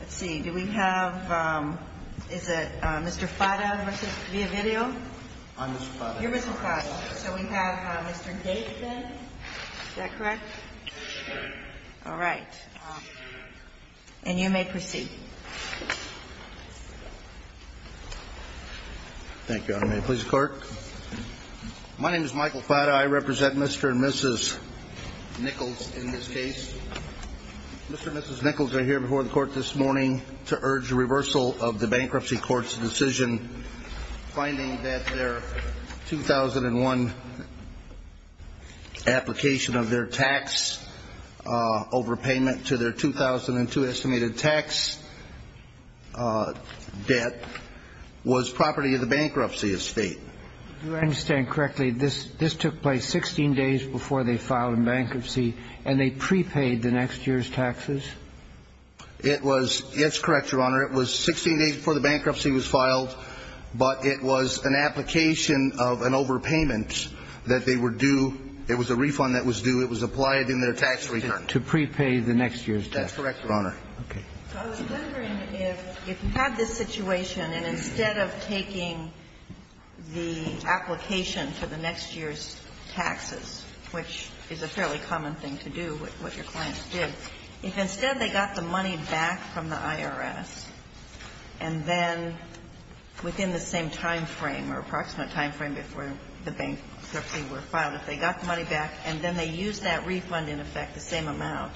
Let's see, do we have, is it Mr. Fada v. Villavideo? I'm Mr. Fada. You're Mr. Fada. So we have Mr. Gates then? Is that correct? That's correct. All right. And you may proceed. Thank you, Your Honor. May it please the Court? My name is Michael Fada. I represent Mr. and Mrs. Nichols in this case. Mr. and Mrs. Nichols are here before the Court this morning to urge reversal of the bankruptcy court's decision, finding that their 2001 application of their tax overpayment to their 2002 estimated tax debt was property of the bankruptcy estate. Do I understand correctly this took place 16 days before they filed in bankruptcy and they prepaid the next year's taxes? It was, it's correct, Your Honor. It was 16 days before the bankruptcy was filed, but it was an application of an overpayment that they were due, it was a refund that was due, it was applied in their tax return. To prepay the next year's tax. That's correct, Your Honor. Okay. I was wondering if you had this situation and instead of taking the application for the next year's taxes, which is a fairly common thing to do, what your clients did, if instead they got the money back from the IRS and then within the same timeframe or approximate timeframe before the bankruptcy were filed, if they got the money back and then they used that refund in effect, the same amount,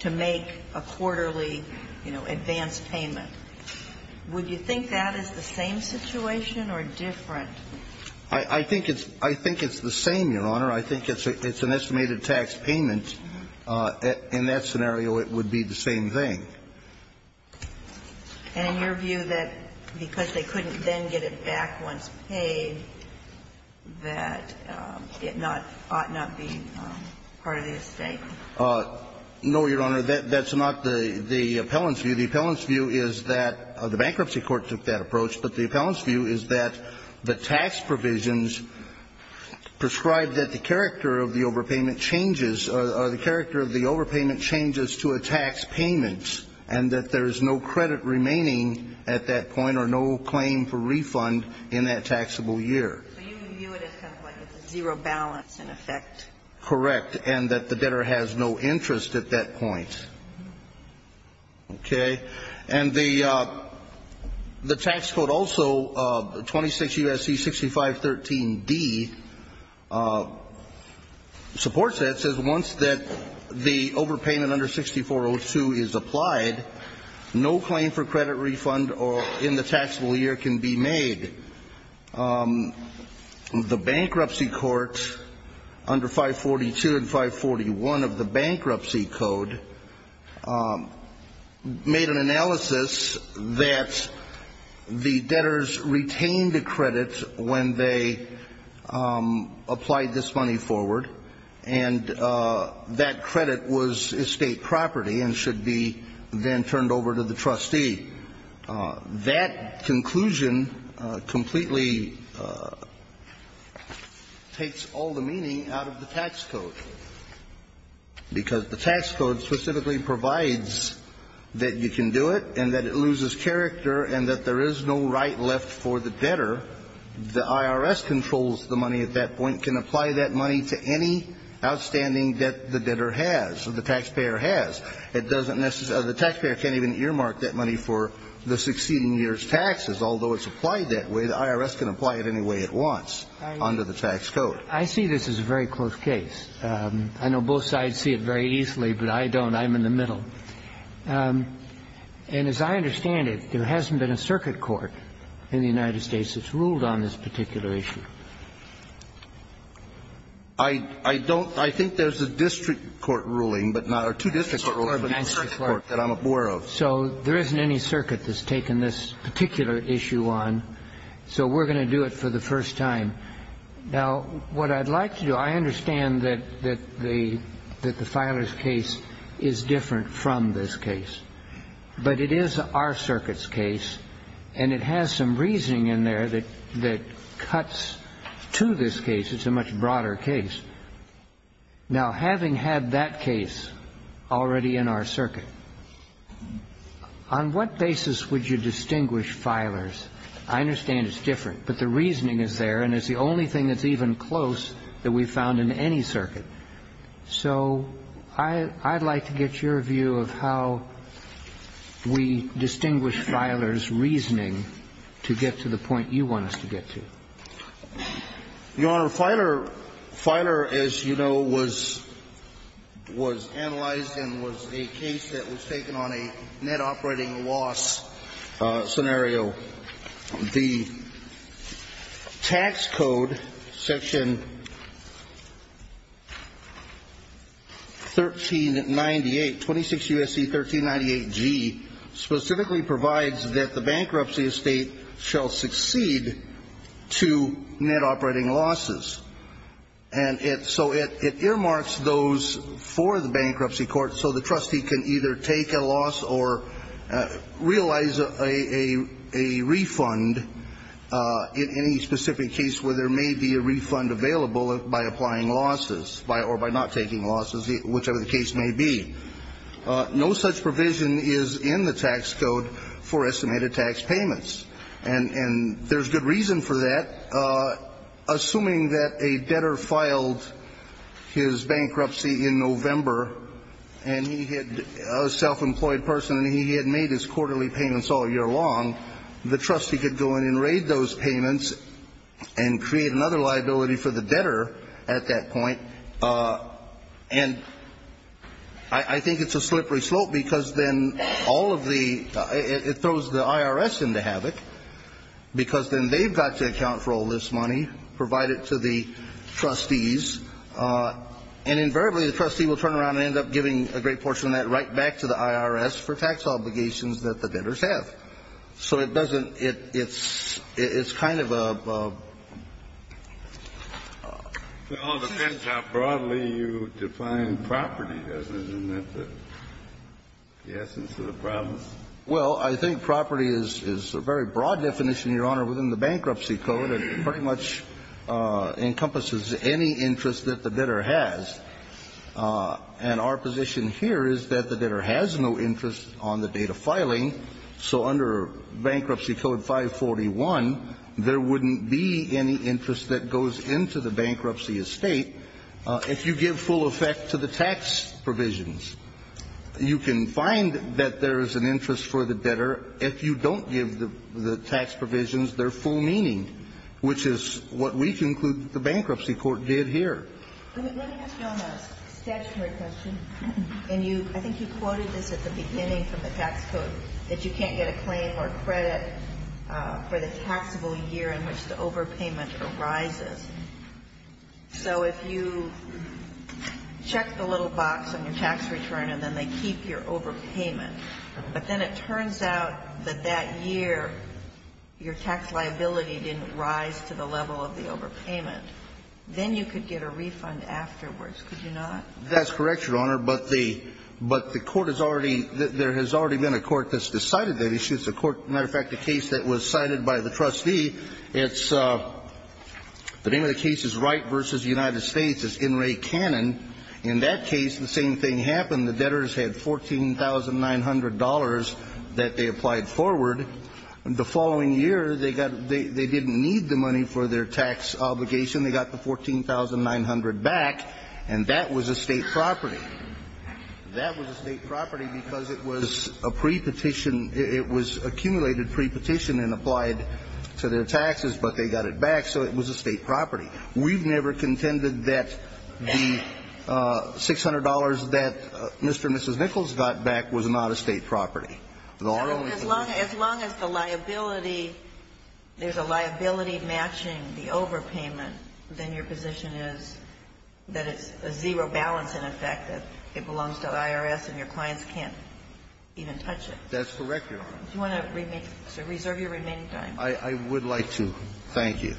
to make a quarterly, you know, advanced payment, would you think that is the same situation or different? I think it's the same, Your Honor. I think it's an estimated tax payment. In that scenario, it would be the same thing. And your view that because they couldn't then get it back once paid, that it not ought not be part of the estate? No, Your Honor, that's not the appellant's view. The appellant's view is that the bankruptcy court took that approach, but the appellant's view is that the tax provisions prescribe that the character of the overpayment changes or the character of the overpayment changes to a tax payment and that there is no credit remaining at that point or no claim for refund in that taxable year. So you view it as kind of like a zero balance in effect? Correct. And that the debtor has no interest at that point. Okay. And the tax code also, 26 U.S.C. 6513d, supports that. It says once that the overpayment under 6402 is applied, no claim for credit refund or in the taxable year can be made. The bankruptcy court, under 542 and 541 of the bankruptcy code, made an analysis that the debtors retained a credit when they applied this money forward, and that credit was estate property and should be then turned over to the trustee. That conclusion completely takes all the meaning out of the tax code, because the tax code specifically provides that you can do it and that it loses character and that there is no right left for the debtor. The IRS controls the money at that point, can apply that money to any outstanding debt the debtor has or the taxpayer has. It doesn't necessarily the taxpayer can't even earmark that money for the succeeding year's taxes. Although it's applied that way, the IRS can apply it any way it wants under the tax code. I see this as a very close case. I know both sides see it very easily, but I don't. I'm in the middle. And as I understand it, there hasn't been a circuit court in the United States that's ruled on this particular issue. I don't. I think there's a district court ruling, but not or two district court rulings in the circuit court that I'm aware of. So there isn't any circuit that's taken this particular issue on. So we're going to do it for the first time. Now, what I'd like to do, I understand that the filer's case is different from this case, but it is our circuit's case, and it has some reasoning in there that cuts to this case. It's a much broader case. Now, having had that case already in our circuit, on what basis would you distinguish filers? I understand it's different, but the reasoning is there, and it's the only thing that's even close that we've found in any circuit. So I'd like to get your view of how we distinguish filers' reasoning to get to the point you want us to get to. Your Honor, filer, as you know, was analyzed and was a case that was taken on a net operating loss scenario. The tax code, section 1398, 26 U.S.C. 1398G, specifically provides that the bankruptcy estate shall succeed to net operating losses. And so it earmarks those for the bankruptcy court so the trustee can either take a loss or realize a refund in any specific case where there may be a refund available by applying losses or by not taking losses, whichever the case may be. No such provision is in the tax code for estimated tax payments. And there's good reason for that. Assuming that a debtor filed his bankruptcy in November and he had a self-employed person and he had made his quarterly payments all year long, the trustee could go in and raid those payments and create another liability for the debtor at that point. And I think it's a slippery slope because then all of the ñ it throws the IRS into And the IRS is going to have to pay the IRS money, provide it to the trustees, and invariably the trustee will turn around and end up giving a great portion of that right back to the IRS for tax obligations that the debtors have. So it doesn't ñ it's kind of a ñ Well, it depends how broadly you define property, doesn't it? Isn't that the essence of the problem? Well, I think property is a very broad definition, Your Honor, within the bankruptcy code. It pretty much encompasses any interest that the debtor has. And our position here is that the debtor has no interest on the date of filing, so under Bankruptcy Code 541, there wouldn't be any interest that goes into the bankruptcy estate if you give full effect to the tax provisions. You can find that there is an interest for the debtor if you don't give the tax provisions their full meaning, which is what we conclude the bankruptcy court did here. Let me ask you a statutory question. And you ñ I think you quoted this at the beginning from the tax code, that you can't get a claim or credit for the taxable year in which the overpayment arises. So if you check the little box on your tax return and then they keep your overpayment, but then it turns out that that year your tax liability didn't rise to the level of the overpayment, then you could get a refund afterwards. Could you not? That's correct, Your Honor. But the ñ but the court has already ñ there has already been a court that's decided that issue. It's a court ñ matter of fact, a case that was cited by the trustee. It's ñ the name of the case is Wright v. United States. It's N. Ray Cannon. In that case, the same thing happened. The debtors had $14,900 that they applied forward. The following year, they got ñ they didn't need the money for their tax obligation. They got the $14,900 back, and that was a state property. That was a state property because it was a pre-petition ñ it was accumulated pre-petition and applied to their taxes, but they got it back, so it was a state property. We've never contended that the $600 that Mr. and Mrs. Nichols got back was not a state property. As long as the liability ñ there's a liability matching the overpayment, then your position is that it's a zero balance, in effect, that it belongs to IRS and your clients can't even touch it. That's correct, Your Honor. Do you want to reserve your remaining time? I would like to. Thank you.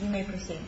You may proceed.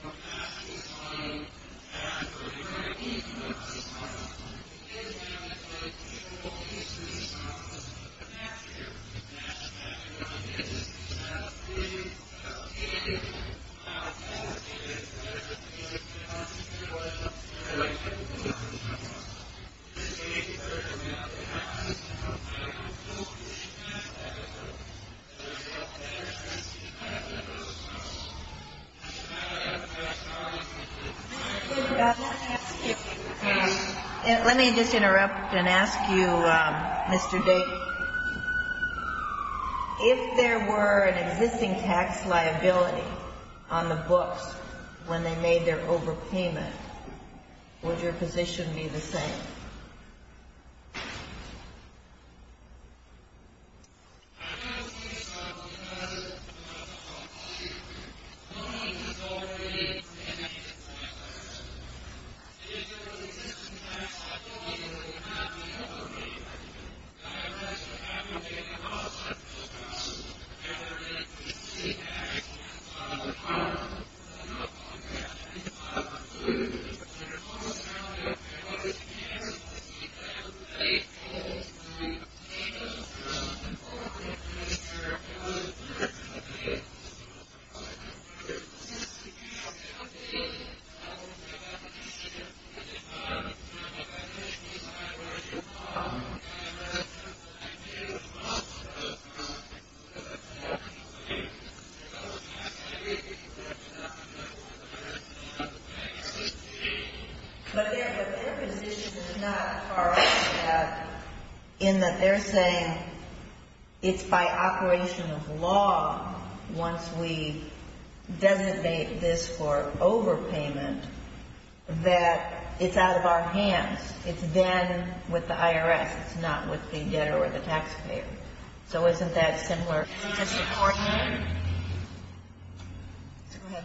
Thank you. Thank you. Thank you. Thank you. Thank you. Let me just interrupt and ask you, Mr. Davis. If there were an existing tax liability on the books when they made their overpayment, would your position be the same? Yes, Your Honor. But their position is not far off that, in that they're saying it's by operation of law, once we designate this for overpayment, that it's out of our hands. It's then with the IRS. It's not with the debtor or the taxpayer. So isn't that similar? Is this a court matter? Go ahead.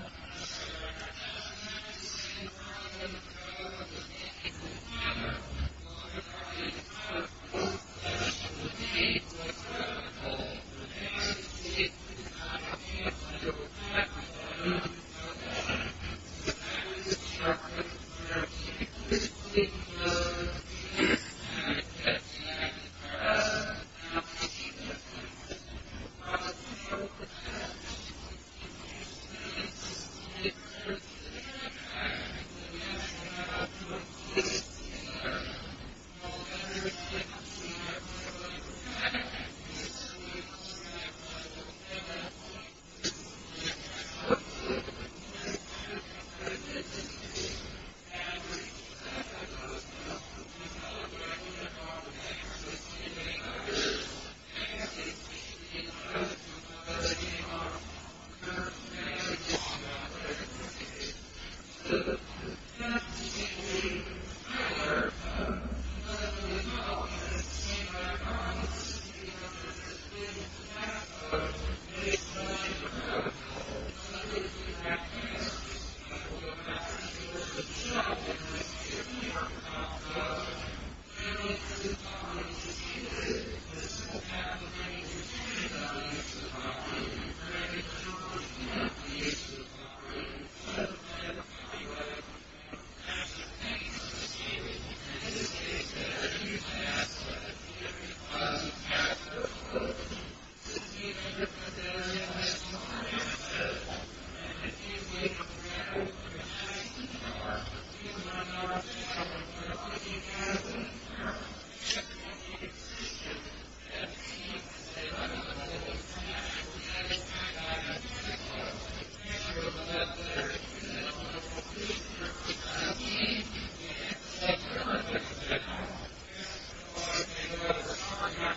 Yes, Your Honor. Yes, Your Honor. Yes, Your Honor. Yes, Your Honor. Yes, Your Honor. Yes, Your Honor. Yes, Your Honor.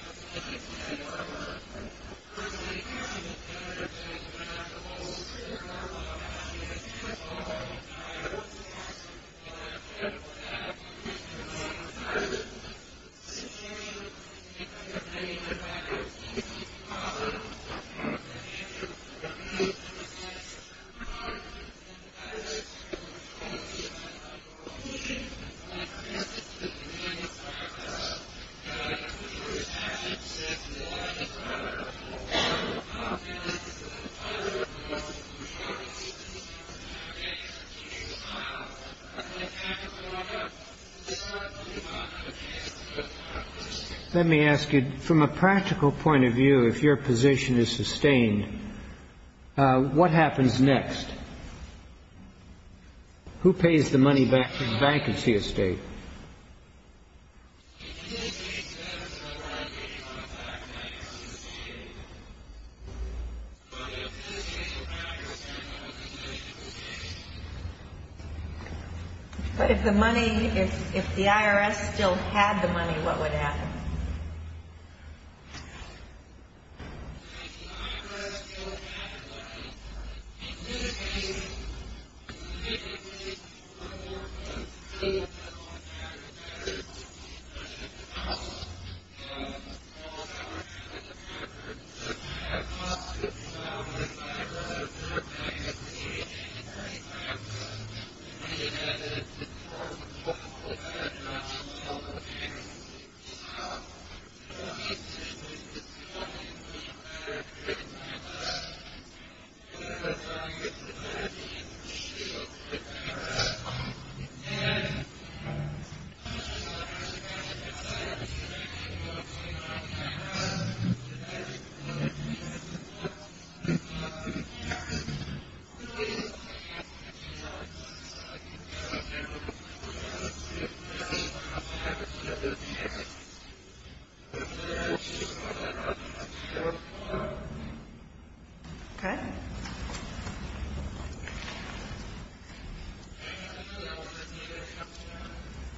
Let me ask you, from a practical point of view, if your position is sustained, what happens next? Who pays the money back to the Bank of Seastate? If the Bank of Seastate's debtors are eradicating our tax liability, that's sustained. But if Seastate's debtors can't have a position, who pays? If the IRS still had the money, what would happen? Well, the literal answer would be something for people to decide. I don't say it's an option, I think it's a possibility. I think it's... I think it's a possibility. Okay.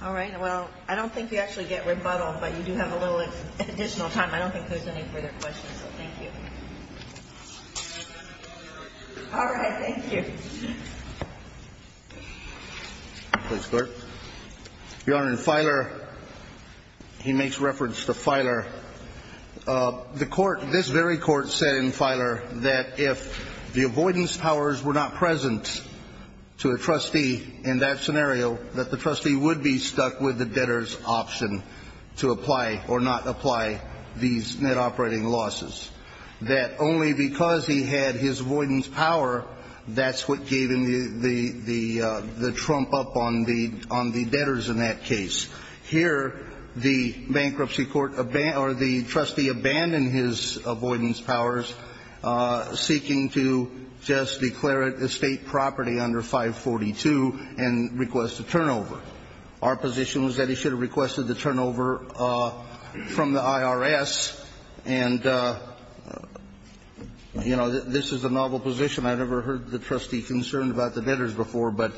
All right, well, I don't think we actually get rebuttal, but you do have a little additional time. I don't think there's any further questions, so thank you. All right, thank you. Please, clerk. Your Honor, in Filer, he makes reference to Filer. The court, this very court, said in Filer that if the avoidance powers were not present to a trustee in that scenario, that the trustee would be stuck with the debtor's option to apply or not apply these net operating losses. That only because he had his avoidance power, that's what gave him the trump up on the debtors in that case. Here, the bankruptcy court or the trustee abandoned his avoidance powers, seeking to just declare it estate property under 542 and request a turnover. Our position was that he should have requested the turnover from the IRS, and, you know, this is a novel position. I've never heard the trustee concerned about the debtors before, but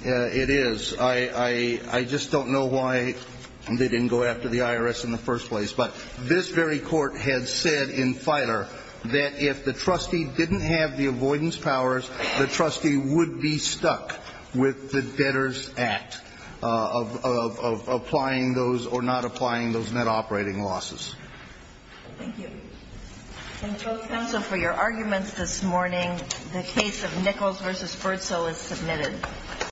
it is. I just don't know why they didn't go after the IRS in the first place. But this very court had said in Filer that if the trustee didn't have the avoidance powers, the trustee would be stuck with the debtor's act of applying those or not applying those net operating losses. Thank you. And, Judge Spencer, for your arguments this morning, the case of Nichols v. Ferzo is submitted.